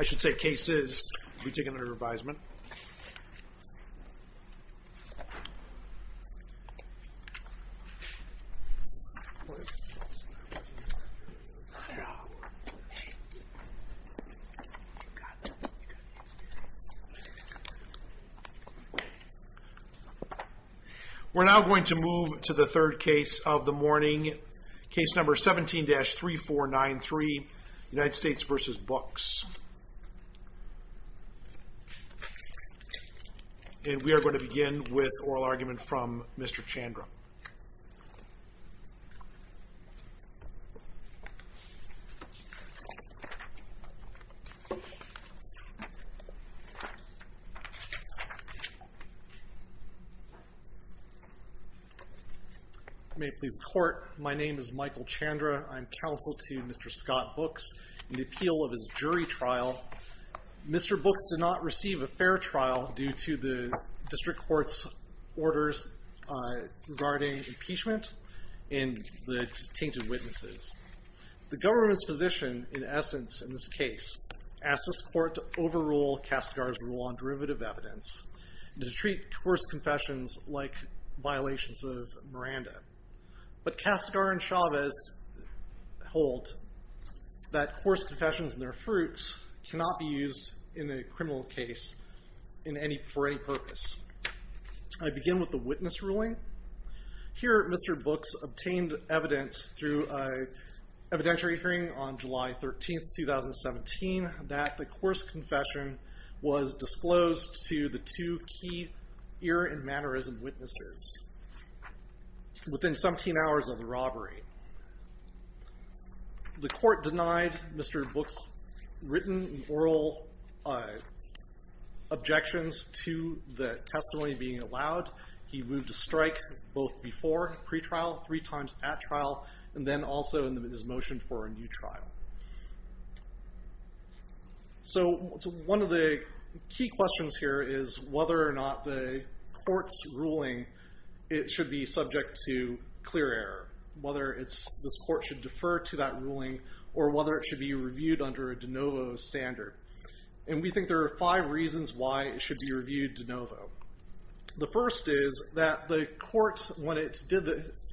I should say cases we've taken their advisement we're now going to move to the third case of the morning case number 17-3493 United States v. Books and we are moving to the third case of the morning case number 17-3493 United States v. Books. May it please the court, my name is Michael Chandra. I'm counsel to Mr. Scott Books and the appeal of his jury trial. Mr. Books did not receive a fair trial due to the district court's orders regarding impeachment and the detained witnesses. The government's position in essence in this case asked this court to overrule Kastegar's rule on derivative evidence and to treat coarse confessions like violations of Miranda. But Kastegar and Chavez hold that criminal case for any purpose. I begin with the witness ruling. Here Mr. Books obtained evidence through an evidentiary hearing on July 13, 2017 that the coarse confession was disclosed to the two key ear and mannerism witnesses within 17 hours of the robbery. The court denied Mr. Books written oral objections to the testimony being allowed. He moved to strike both before pre-trial, three times at trial, and then also in his motion for a new trial. So one of the key questions here is whether or not the court's ruling should be subject to clear error. Whether this court should be held under a de novo standard. And we think there are five reasons why it should be reviewed de novo. The first is that the court, when it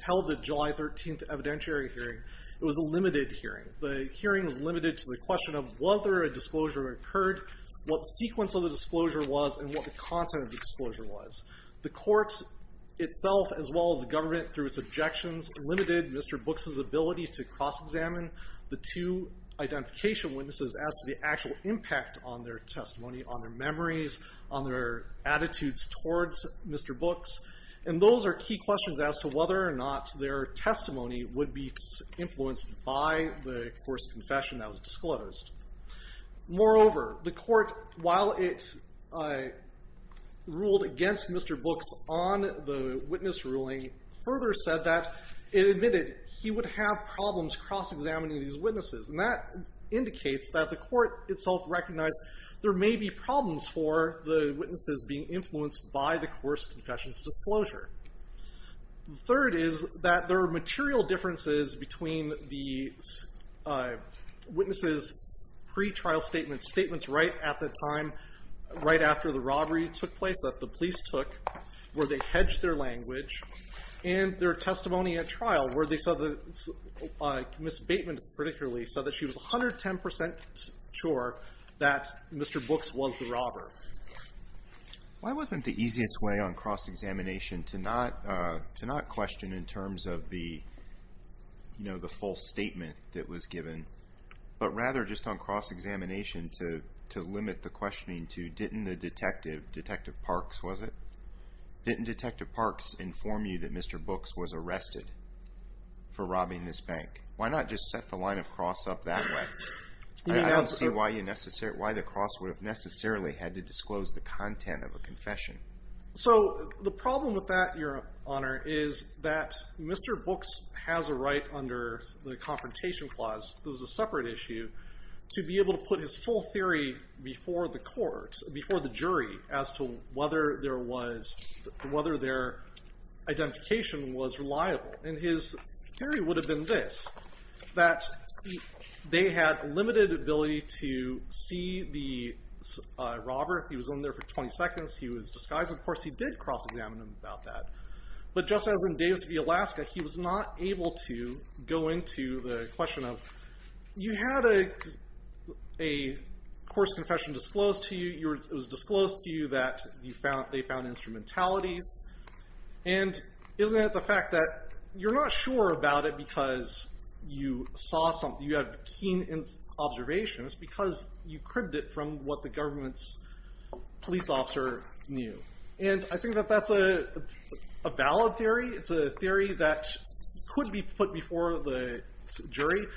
held the July 13th evidentiary hearing, it was a limited hearing. The hearing was limited to the question of whether a disclosure occurred, what the sequence of the disclosure was, and what the content of the disclosure was. The court itself, as well as the government through its objections, limited Mr. Books' ability to cross-examine the two identification witnesses as to the actual impact on their testimony, on their memories, on their attitudes towards Mr. Books. And those are key questions as to whether or not their testimony would be influenced by the coarse confession that was disclosed. Moreover, the court, while it ruled against Mr. Books on the witness ruling, further said that it admitted he would have problems cross-examining these witnesses. And that indicates that the court itself recognized there may be problems for the witnesses being influenced by the coerced confession's disclosure. The third is that there are material differences between the witnesses' pre-trial statements, statements right at the time, right after the robbery took place, that the police took, where they hedged their language, and their testimony at trial, where they said that Ms. Bateman, particularly, said that she was 110% sure that Mr. Books was the robber. Why wasn't the easiest way on cross-examination to not question in terms of the false statement that was given, but rather just on cross-examination to limit the questioning to, didn't the detective, Detective Parks, was it? Didn't Detective Parks inform you that why not just set the line of cross up that way? I don't see why the cross would have necessarily had to disclose the content of a confession. So the problem with that, Your Honor, is that Mr. Books has a right under the Confrontation Clause, this is a separate issue, to be able to put his full theory before the court, before the jury, as to whether there was, whether their that they had limited ability to see the robber, he was only there for 20 seconds, he was disguised, of course he did cross-examine him about that, but just as in Davis v. Alaska, he was not able to go into the question of, you had a a coarse confession disclosed to you, it was disclosed to you that they found instrumentalities, and isn't it the fact that you're not sure about it because you saw something, you had keen observations, because you cribbed it from what the government's police officer knew, and I think that that's a valid theory, it's a theory that could be put before the jury,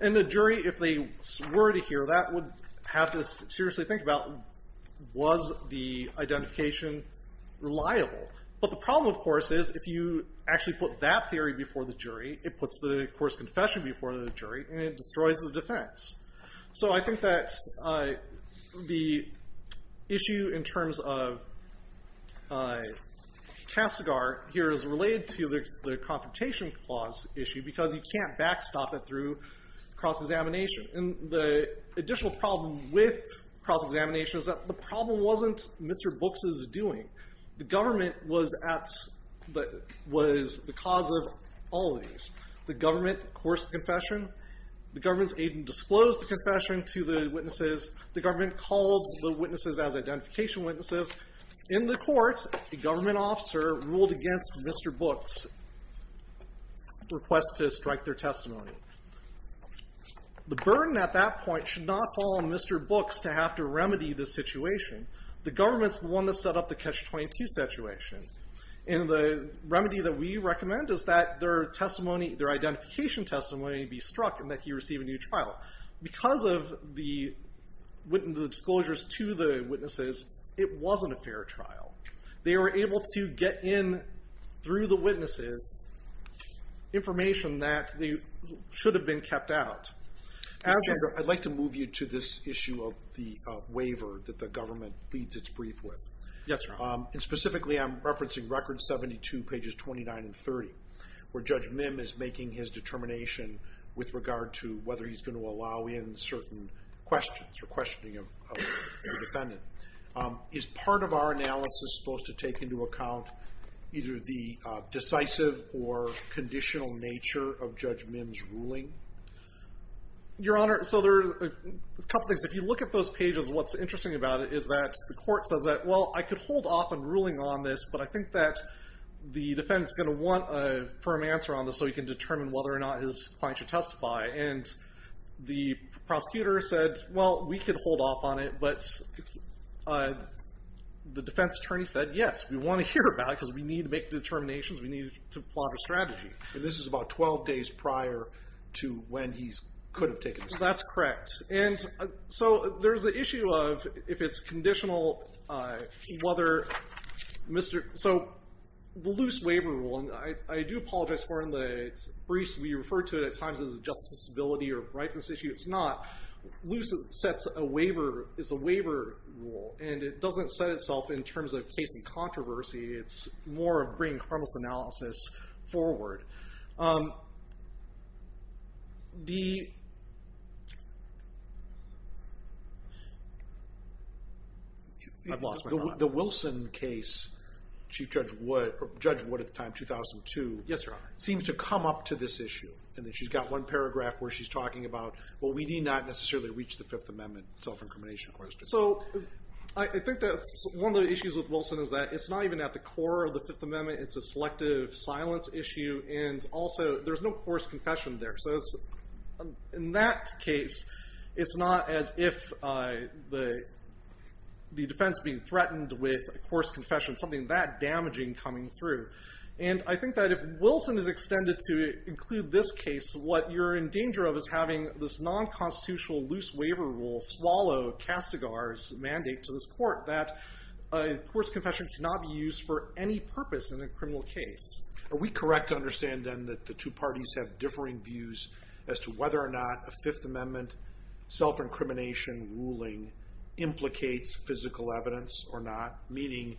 and the jury, if they were to hear that, would have to seriously think about, was the identification reliable? But the problem, of course, is if you actually put that theory before the jury, it puts the coarse confession before the jury, and it destroys the defense. So I think that the issue in terms of Castigar here is related to the Confrontation Clause issue, because you can't backstop it through cross-examination, and the additional problem with cross-examination is that the problem wasn't Mr. Books' doing. The government was at, was the cause of all of these. The government coerced the confession, the government's agent disclosed the confession to the witnesses, the government called the witnesses as identification witnesses. In the court, the government officer ruled against Mr. Books' request to strike their testimony. The burden at that point should not fall on Mr. Books to have to remedy the situation. The government's the one that set up the Catch-22 situation, and the remedy that we recommend is that their testimony, their identification testimony be struck, and that he receive a new trial. Because of the disclosures to the witnesses, it wasn't a fair trial. They were able to get in through the witnesses information that should have been kept out. I'd like to move you to this issue of the waiver that the government leads its brief with. Yes, sir. Specifically, I'm referencing Record 72, pages 29 and 30, where Judge Mim is making his determination with regard to whether he's going to allow in certain questions, or questioning of the defendant. Is part of our analysis supposed to take into account either the decisive or conditional nature of Judge Mim's ruling? Your Honor, so there are a couple things. If you look at those pages, what's interesting about it is that the court says that, well, I could hold off on ruling on this, but I think that the defendant's going to want a firm answer on this so he can determine whether or not his client should testify. The prosecutor said, well, we could hold off on it, but the defense attorney said, yes, we want to hear about it because we need to make the determinations. We need to plot a strategy. This is about 12 days prior to when he could have taken it. That's correct. There's the issue of if it's conditional, whether Mr.... The loose waiver rule, and I do apologize for it in the briefs. We refer to it at times as a justice disability or a brightness issue. It's not. Loose is a waiver rule, and it doesn't set itself in terms of case and controversy. It's more of bringing criminalist analysis forward. I've lost my mind. The Wilson case, Chief Judge Wood at the time, 2002. Yes, Your Honor. Seems to come up to this issue, and then she's got one paragraph where she's talking about, well, we need not necessarily reach the Fifth Amendment self-incrimination question. So I think that one of the issues with Wilson is that it's not even at the core of the Fifth Amendment's issue, and also there's no forced confession there. So in that case, it's not as if the defense being threatened with a forced confession, something that damaging coming through. And I think that if Wilson is extended to include this case, what you're in danger of is having this non-constitutional loose waiver rule swallow Castigar's mandate to this court that a forced confession cannot be used for any purpose in a criminal case. Are we correct to understand, then, that the two parties have differing views as to whether or not a Fifth Amendment self-incrimination ruling implicates physical evidence or not? Meaning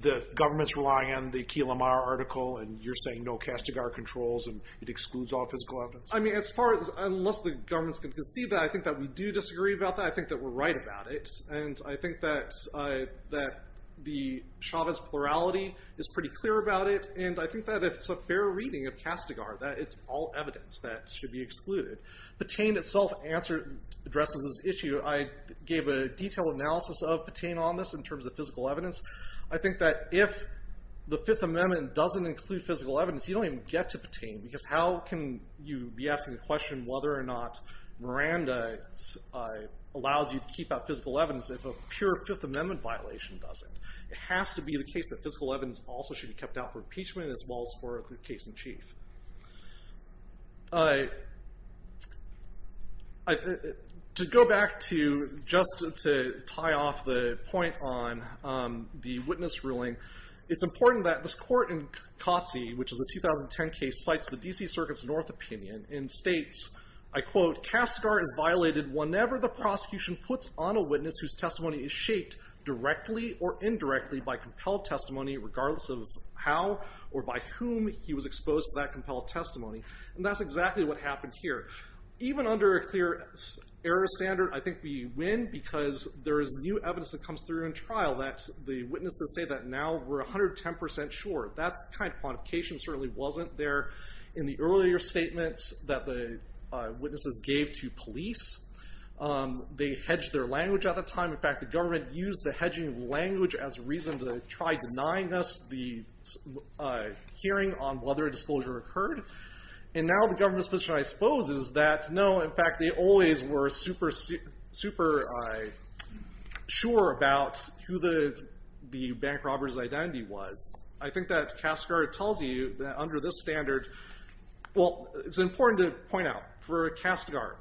the government's relying on the Key Lamar article, and you're saying no Castigar controls, and it excludes all physical evidence? I mean, as far as, unless the government's going to concede that, I think that we do disagree about that. I think that we're right about it. And I think that the Chavez plurality is pretty clear about it, and I think that it's a fair reading of Castigar that it's all evidence that should be excluded. Petain itself addresses this issue. I gave a detailed analysis of Petain on this in terms of physical evidence. I think that if the Fifth Amendment doesn't include physical evidence, you don't even get to Petain, because how can you be asking the question whether or not Miranda allows you to keep out physical evidence if a pure Fifth Amendment violation doesn't? It has to be the case that physical evidence also should be kept out for impeachment as well as for the case in chief. To go back to, just to tie off the point on the witness ruling, it's important that this court in Cotzee, which is a 2010 case, cites the D.C. Circuit's North opinion and states, I quote, Castigar is violated whenever the prosecution puts on a witness whose testimony is shaped directly or indirectly by compelled testimony, regardless of how or by whom he was exposed to that compelled testimony, and that's exactly what happened here. Even under a clear error standard, I think we win because there is new evidence that comes through in trial that the witnesses say that now we're 110% sure. That kind of quantification certainly wasn't there in the earlier statements that the witnesses gave to police. They hedged their language at the time. In fact, the government used the hedging language as a reason to try denying us the hearing on whether a disclosure occurred, and now the government's position, I suppose, is that no, in fact, they always were super sure about who the bank robber's identity was. I think that Castigar tells you that under this standard, well, it's important to point out for Castigar,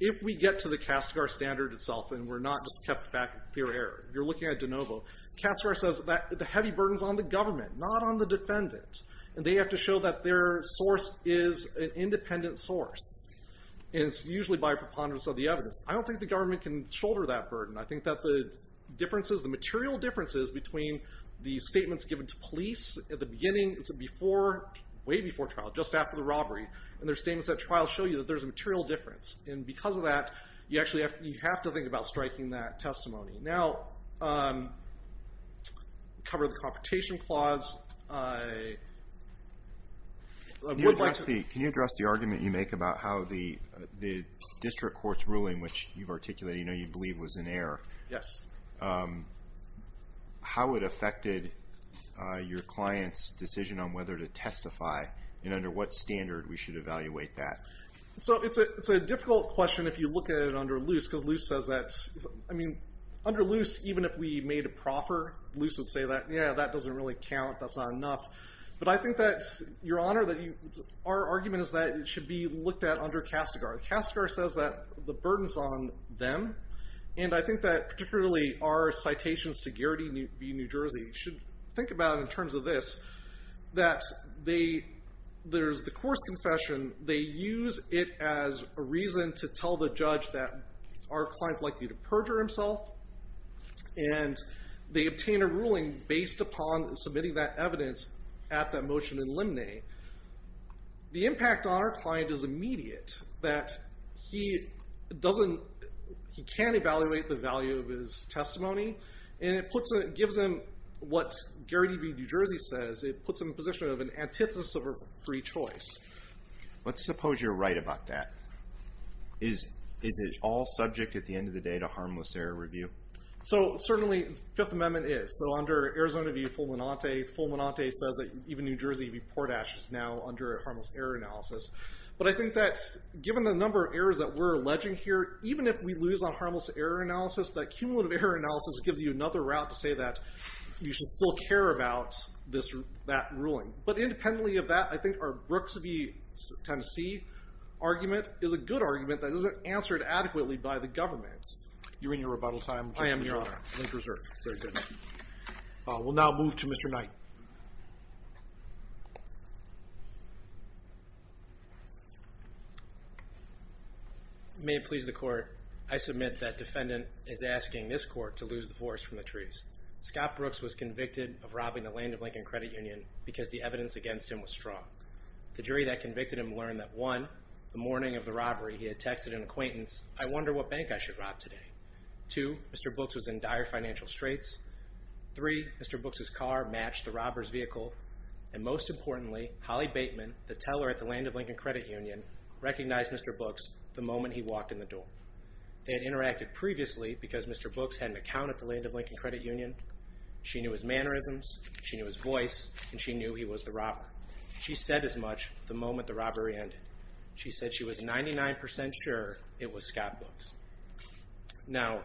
if we get to the Castigar standard itself and we're not just kept back with clear error, you're looking at de novo, Castigar says that the heavy burden's on the government, not on the defendant, and they have to show that their source is an independent source, and it's usually by preponderance of the evidence. I don't think the government can shoulder that burden. I think that the differences, the material differences between the statements given to police at the beginning, it's way before trial, just after the robbery, and their statements at trial show you that there's a material difference, and because of that, you actually have to think about striking that testimony. Now, to cover the competition clause, I would like to... Can you address the argument you make about how the district court's ruling, which you've articulated, you know you believe was in error, how it affected your client's decision on whether to testify, and under what standard we should evaluate that? So it's a difficult question if you look at it under Luce, because Luce says that... I mean, under Luce, even if we made a proffer, Luce would say that, yeah, that doesn't really count, that's not enough. But I think that, Your Honor, our argument is that it should be looked at under Castigar. Castigar says that the burden's on them, and I think that particularly our citations to Garrity v. New Jersey should think about it in terms of this, that there's the course confession, they use it as a reason to tell the judge that our client's likely to perjure himself, and they obtain a ruling based upon submitting that evidence at the motion in limine. The impact on our client is immediate, that he can't evaluate the value of his testimony, and it gives him what Garrity v. New Jersey says, it puts him in a position of an antithesis of a free choice. Let's suppose you're right about that. Is it all subject at the end of the day to harmless error review? So certainly, Fifth Amendment is. So under Arizona v. Fulminante, Fulminante says that even New Jersey v. Portash is now under harmless error analysis. But I think that, given the number of errors that we're alleging here, even if we lose on harmless error analysis, that cumulative error analysis gives you another route to say that you should still care about that ruling. But independently of that, I think our Brooks v. Tennessee argument is a good argument that isn't answered adequately by the government. You're in your rebuttal time. I am, Your Honor. Link reserved. Very good. We'll now move to Mr. Knight. May it please the court, I submit that defendant is asking this court to lose the forest from because the evidence against him was strong. The jury that convicted him learned that, one, the morning of the robbery, he had texted an acquaintance, I wonder what bank I should rob today. Two, Mr. Brooks was in dire financial straits. Three, Mr. Brooks's car matched the robber's vehicle. And most importantly, Holly Bateman, the teller at the Land of Lincoln Credit Union, recognized Mr. Brooks the moment he walked in the door. They had interacted previously because Mr. Brooks had an account at the Land of Lincoln Credit Union. She knew his mannerisms. She knew his voice. And she knew he was the robber. She said as much the moment the robbery ended. She said she was 99% sure it was Scott Brooks. Now,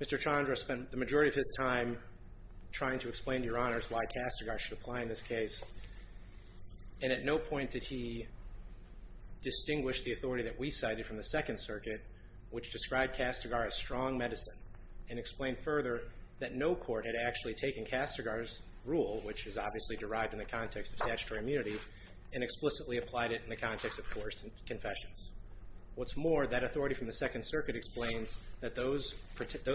Mr. Chandra spent the majority of his time trying to explain to Your Honors why Castigar should apply in this case. And at no point did he distinguish the authority that we cited from the Second Circuit, which described Castigar as strong medicine. And explained further that no court had actually taken Castigar's rule, which is obviously derived in the context of statutory immunity, and explicitly applied it in the context of coerced confessions. What's more, that authority from the Second Circuit explains that those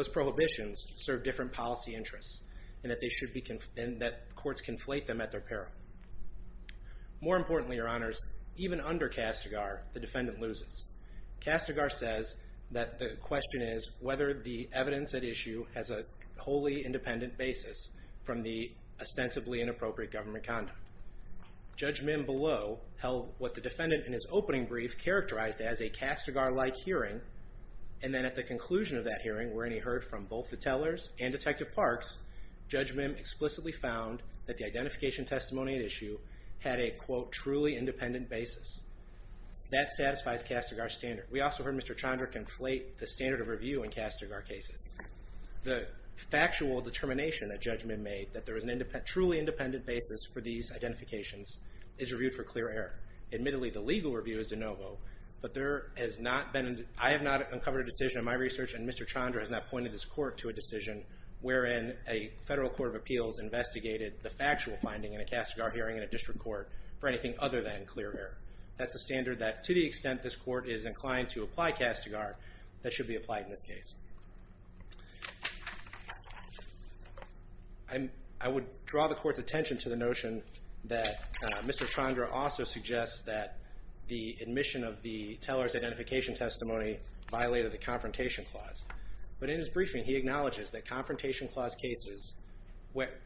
prohibitions serve different policy interests, and that courts conflate them at their peril. More importantly, Your Honors, even under Castigar, the defendant loses. Castigar says that the question is whether the evidence at issue has a wholly independent basis from the ostensibly inappropriate government conduct. Judge Mim below held what the defendant in his opening brief characterized as a Castigar-like hearing. And then at the conclusion of that hearing, wherein he heard from both the tellers and Detective Parks, Judge Mim explicitly found that the identification testimony at issue had a, quote, truly independent basis. That satisfies Castigar's standard. We also heard Mr. Chandra conflate the standard of review in Castigar cases. The factual determination that Judge Mim made, that there is a truly independent basis for these identifications, is reviewed for clear error. Admittedly, the legal review is de novo, but there has not been, I have not uncovered a decision in my research, and Mr. Chandra has not pointed this court to a decision wherein a federal court of appeals investigated the factual finding in a Castigar hearing in a district court for anything other than clear error. That's a standard that, to the extent this court is inclined to apply Castigar, that should be applied in this case. I'm, I would draw the court's attention to the notion that Mr. Chandra also suggests that the admission of the teller's identification testimony violated the Confrontation Clause. But in his briefing, he acknowledges that Confrontation Clause cases,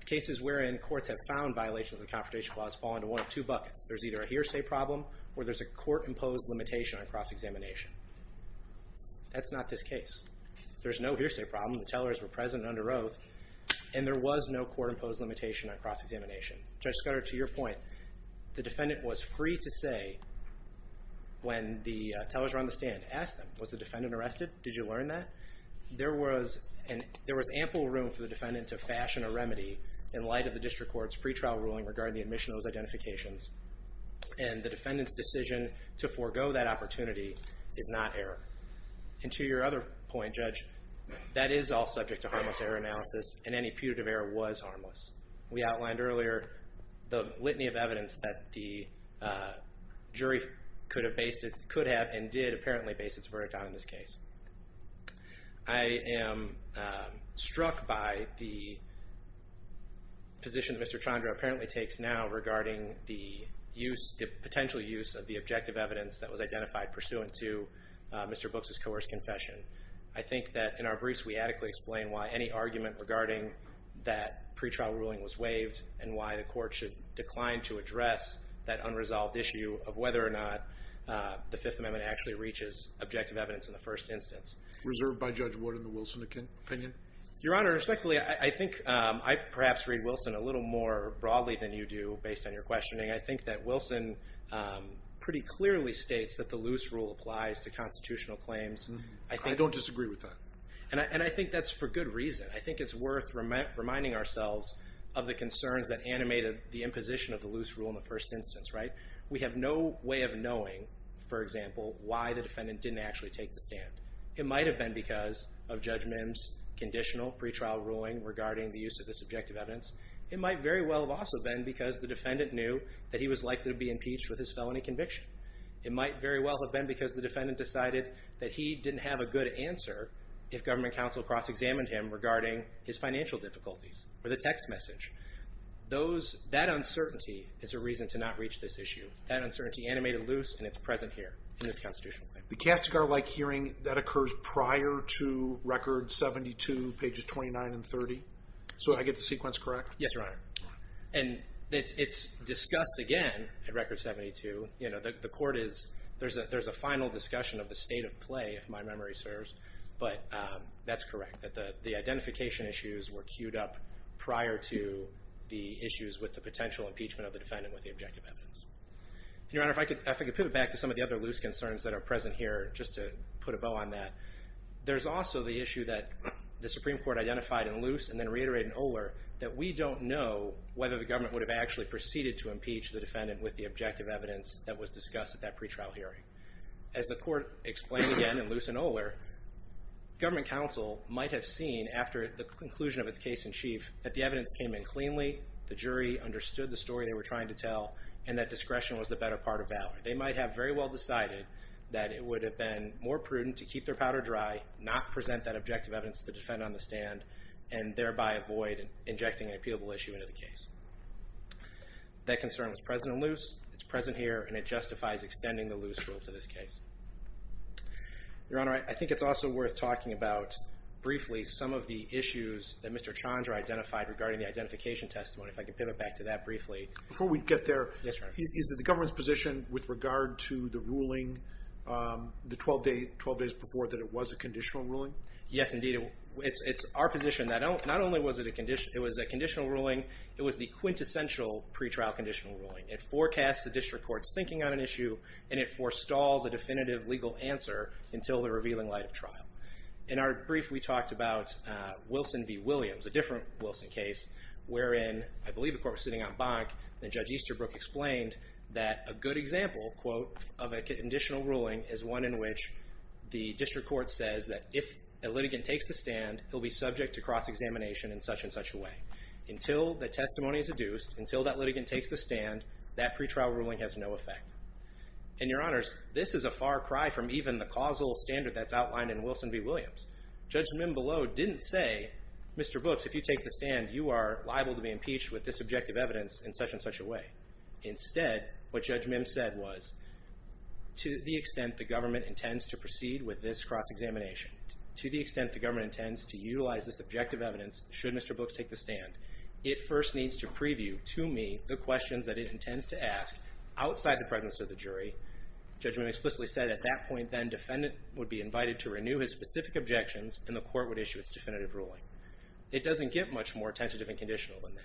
cases wherein courts have found violations of the Confrontation Clause fall into one of two buckets. There's either a hearsay problem, or there's a court-imposed limitation on cross-examination. That's not this case. There's no hearsay problem. The tellers were present and under oath, and there was no court-imposed limitation on cross-examination. Judge Scudder, to your point, the defendant was free to say, when the tellers were on the stand, ask them, was the defendant arrested? Did you learn that? There was ample room for the defendant to fashion a remedy in light of the district court's pretrial ruling regarding the admission of those identifications. And the defendant's decision to forego that opportunity is not error. And to your other point, Judge, that is all subject to harmless error analysis, and any putative error was harmless. We outlined earlier the litany of evidence that the jury could have based its, could have and did apparently base its verdict on in this case. I am struck by the position that Mr. Chandra apparently takes now regarding the use, the potential use of the objective evidence that was identified pursuant to Mr. Books' coerced confession. I think that in our briefs, we adequately explain why any argument regarding that pretrial ruling was waived and why the court should decline to address that unresolved issue of whether or not the Fifth Amendment actually reaches objective evidence in the first instance. Reserved by Judge Wood in the Wilson opinion? Your Honor, respectfully, I think I perhaps read Wilson a little more broadly than you do based on your questioning. I think that Wilson pretty clearly states that the loose rule applies to constitutional claims. I don't disagree with that. And I think that's for good reason. I think it's worth reminding ourselves of the concerns that animated the imposition of the loose rule in the first instance, right? We have no way of knowing, for example, why the defendant didn't actually take the stand. It might have been because of Judge Mims' conditional pretrial ruling regarding the use of this objective evidence. It might very well have also been because the defendant knew that he was likely to be impeached with his felony conviction. It might very well have been because the defendant decided that he didn't have a good answer if government counsel cross-examined him regarding his financial difficulties or the text message. Those, that uncertainty is a reason to not reach this issue. That uncertainty animated loose and it's present here in this constitutional claim. The Kastigar-like hearing, that occurs prior to Record 72, pages 29 and 30. So I get the sequence correct? Yes, Your Honor. And it's discussed again at Record 72. You know, the court is, there's a final discussion of the state of play, if my memory serves. But that's correct, that the identification issues were queued up prior to the issues with the potential impeachment of the defendant with the objective evidence. Your Honor, if I could pivot back to some of the other loose concerns that are present here, just to put a bow on that, there's also the issue that the Supreme Court identified in loose and then reiterated in Oler, that we don't know whether the government would have actually proceeded to impeach the defendant with the objective evidence that was discussed at that pretrial hearing. As the court explained again in loose and Oler, government counsel might have seen, after the conclusion of its case in chief, that the evidence came in cleanly, the jury understood the story they were trying to tell, and that discretion was the better part of valor. They might have very well decided that it would have been more prudent to keep their powder dry, not present that objective evidence to the defendant on the stand, and thereby avoid injecting an appealable issue into the case. That concern was present in loose, it's present here, and it justifies extending the loose rule to this case. Your Honor, I think it's also worth talking about briefly some of the issues that Mr. Chandra identified regarding the identification testimony, if I could pivot back to that briefly. Before we get there, is it the government's position with regard to the ruling, the 12 days before, that it was a conditional ruling? Yes, indeed. It's our position that not only was it a conditional ruling, it was the quintessential pretrial conditional ruling. It forecasts the district court's thinking on an issue, and it forestalls a definitive legal answer until the revealing light of trial. In our brief, we talked about Wilson v. Williams, a different Wilson case, wherein I believe the court was sitting on bank, and Judge Easterbrook explained that a good example, quote, of a conditional ruling is one in which the district court says that if a litigant takes the stand, he'll be subject to cross-examination in such and such a way. Until the testimony is adduced, until that litigant takes the stand, that pretrial ruling has no effect. And Your Honors, this is a far cry from even the causal standard that's outlined in Wilson v. Williams. Judge Mimbeleau didn't say, Mr. Books, if you take the stand, you are liable to be impeached with this objective evidence in such and such a way. Instead, what Judge Mimbeau said was, to the extent the government intends to proceed with this cross-examination, to the extent the government intends to utilize this objective evidence, should Mr. Books take the stand, it first needs to preview to me the questions that it intends to ask outside the presence of the jury. Judge Mimbeau explicitly said at that point, then, defendant would be invited to renew his specific objections, and the court would issue its definitive ruling. It doesn't get much more tentative and conditional than that.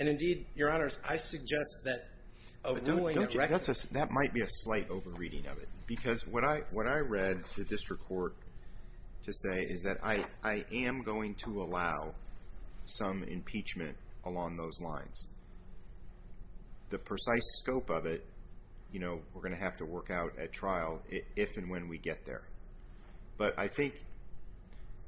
And indeed, Your Honors, I suggest that a ruling that recommends that might be a slight over-reading of it. Because what I read the district court to say is that I am going to allow some impeachment along those lines. The precise scope of it, you know, we're going to have to work out at trial if and when we get there. But I think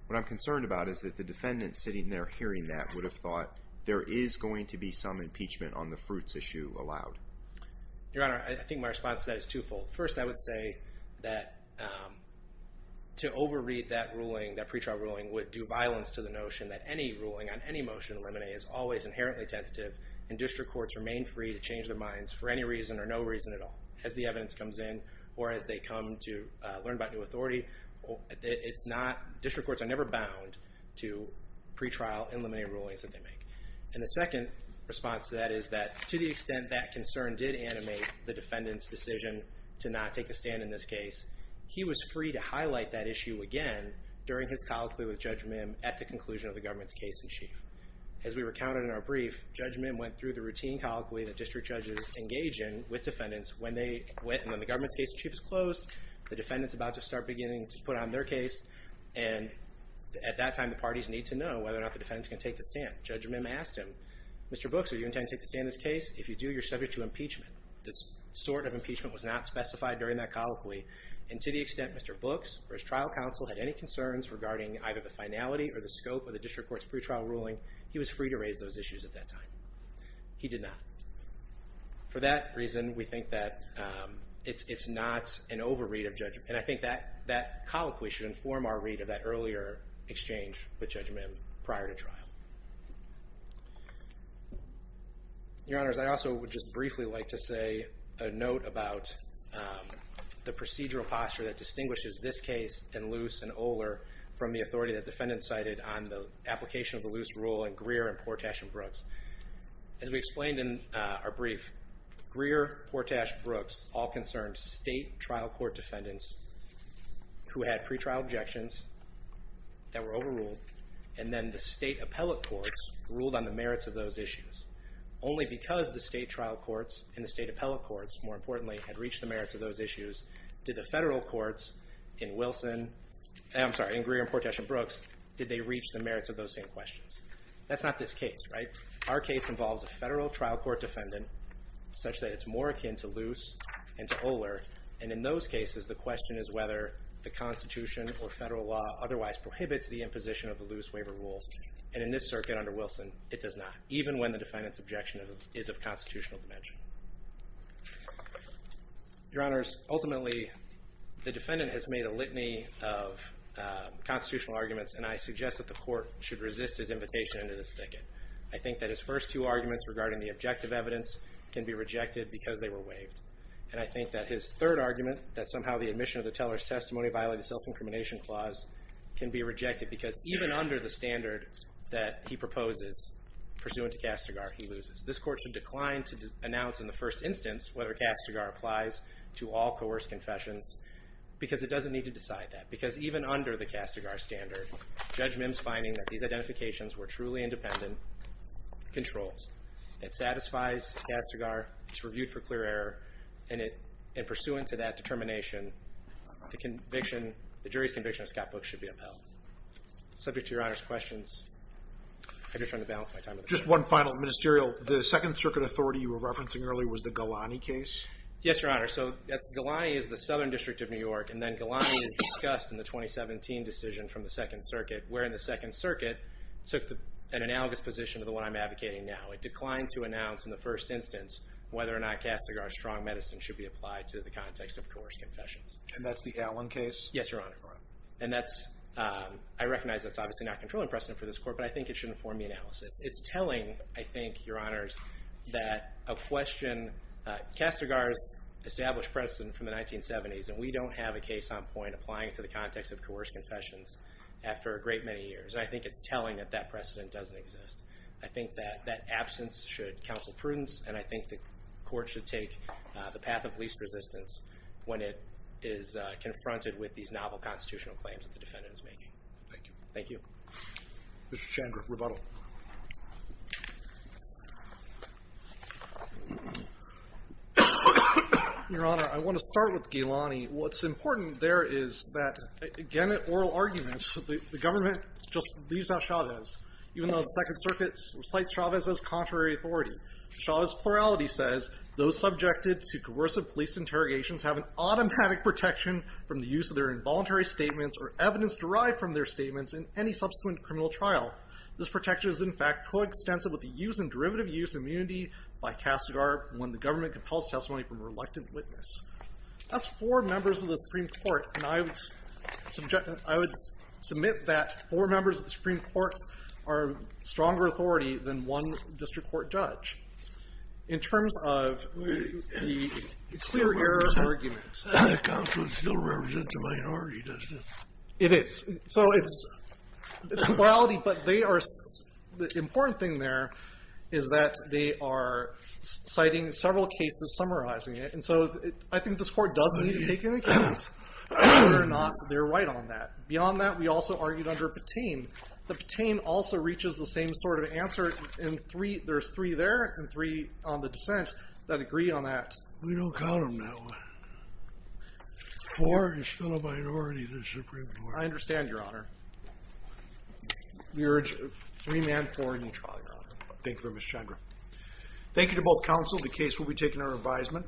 what I'm concerned about is that the defendant sitting there hearing that would have thought, there is going to be some impeachment on the fruits issue allowed. Your Honor, I think my response to that is twofold. First, I would say that to over-read that ruling, that pretrial ruling, would do violence to the notion that any ruling on any motion in limine is always inherently tentative, and district courts remain free to change their minds for any reason or no reason at all as the evidence comes in or as they come to learn about new authority. District courts are never bound to pretrial and limine rulings that they make. And the second response to that is that to the extent that concern did animate the defendant's decision to not take a stand in this case, he was free to highlight that issue again during his colloquy with Judge Mim at the conclusion of the government's case in chief. As we recounted in our brief, Judge Mim went through the routine colloquy that district went and when the government's case in chief is closed, the defendant's about to start beginning to put on their case, and at that time the parties need to know whether or not the defendant's going to take the stand. Judge Mim asked him, Mr. Books, are you intending to take the stand in this case? If you do, you're subject to impeachment. This sort of impeachment was not specified during that colloquy, and to the extent Mr. Books or his trial counsel had any concerns regarding either the finality or the scope of the district court's pretrial ruling, he was free to raise those issues at that time. He did not. For that reason, we think that it's not an over-read of Judge Mim. And I think that colloquy should inform our read of that earlier exchange with Judge Mim prior to trial. Your Honors, I also would just briefly like to say a note about the procedural posture that distinguishes this case in Luce and Oler from the authority that defendants cited on the application of the Luce rule in Greer and Portash and Brooks. As we explained in our brief, Greer, Portash, Brooks all concerned state trial court defendants who had pretrial objections that were overruled, and then the state appellate courts ruled on the merits of those issues. Only because the state trial courts and the state appellate courts, more importantly, had reached the merits of those issues, did the federal courts in Wilson, I'm sorry, in Greer and Portash and Brooks, did they reach the merits of those same questions. That's not this case, right? Our case involves a federal trial court defendant such that it's more akin to Luce and to Oler. And in those cases, the question is whether the Constitution or federal law otherwise prohibits the imposition of the Luce waiver rules. And in this circuit under Wilson, it does not, even when the defendant's objection is of constitutional dimension. Your Honors, ultimately, the defendant has made a litany of constitutional arguments and I suggest that the court should resist his invitation into this thicket. I think that his first two arguments regarding the objective evidence can be rejected because they were waived. And I think that his third argument, that somehow the admission of the teller's testimony violated the self-incrimination clause, can be rejected because even under the standard that he proposes pursuant to Castigar, he loses. This court should decline to announce in the first instance whether Castigar applies to all coerced confessions because it doesn't need to decide that. Because even under the Castigar standard, Judge Mims finding that these identifications were truly independent controls. It satisfies Castigar. It's reviewed for clear error. And pursuant to that determination, the jury's conviction of Scott Book should be upheld. Subject to Your Honor's questions, I'm just trying to balance my time. Just one final, Ministerial. The Second Circuit authority you were referencing earlier was the Galani case? Yes, Your Honor. So Galani is the Southern District of New York and then Galani is discussed in the 2017 decision from the Second Circuit, wherein the Second Circuit took an analogous position to the one I'm advocating now. It declined to announce in the first instance whether or not Castigar's strong medicine should be applied to the context of coerced confessions. And that's the Allen case? Yes, Your Honor. And that's, I recognize that's obviously not controlling precedent for this court, but I think it should inform the analysis. It's telling, I think, Your Honors, that a question, Castigar's established precedent from the 1970s and we don't have a case on point applying it to the context of coerced confessions after a great many years. And I think it's telling that that precedent doesn't exist. I think that that absence should counsel prudence and I think the court should take the path of least resistance when it is confronted with these novel constitutional claims that the defendant is making. Thank you. Mr. Chandler, rebuttal. Your Honor, I want to start with Galani. What's important there is that, again, at oral arguments, the government just leaves out Chavez, even though the Second Circuit cites Chavez as contrary authority. Chavez's plurality says, those subjected to coercive police interrogations have an automatic protection from the use of their involuntary statements or evidence derived from their statements in any subsequent criminal trial. This protection is, in fact, coextensive with the use and derivative use of immunity by Castigar when the government compels testimony from a reluctant witness. That's four members of the Supreme Court. And I would submit that four members of the Supreme Court are stronger authority than one district court judge. In terms of the clear error argument. The counsel still represents a minority, doesn't it? It is. So it's plurality. But the important thing there is that they are citing several cases summarizing it. So I think this court does need to take into account whether or not they're right on that. Beyond that, we also argued under Patain. The Patain also reaches the same sort of answer. There's three there and three on the dissent that agree on that. We don't count them that way. Four is still a minority in the Supreme Court. I understand, Your Honor. We urge three men, four in each trial, Your Honor. Thank you very much, Chandra. Thank you to both counsel. The case will be taken under advisement.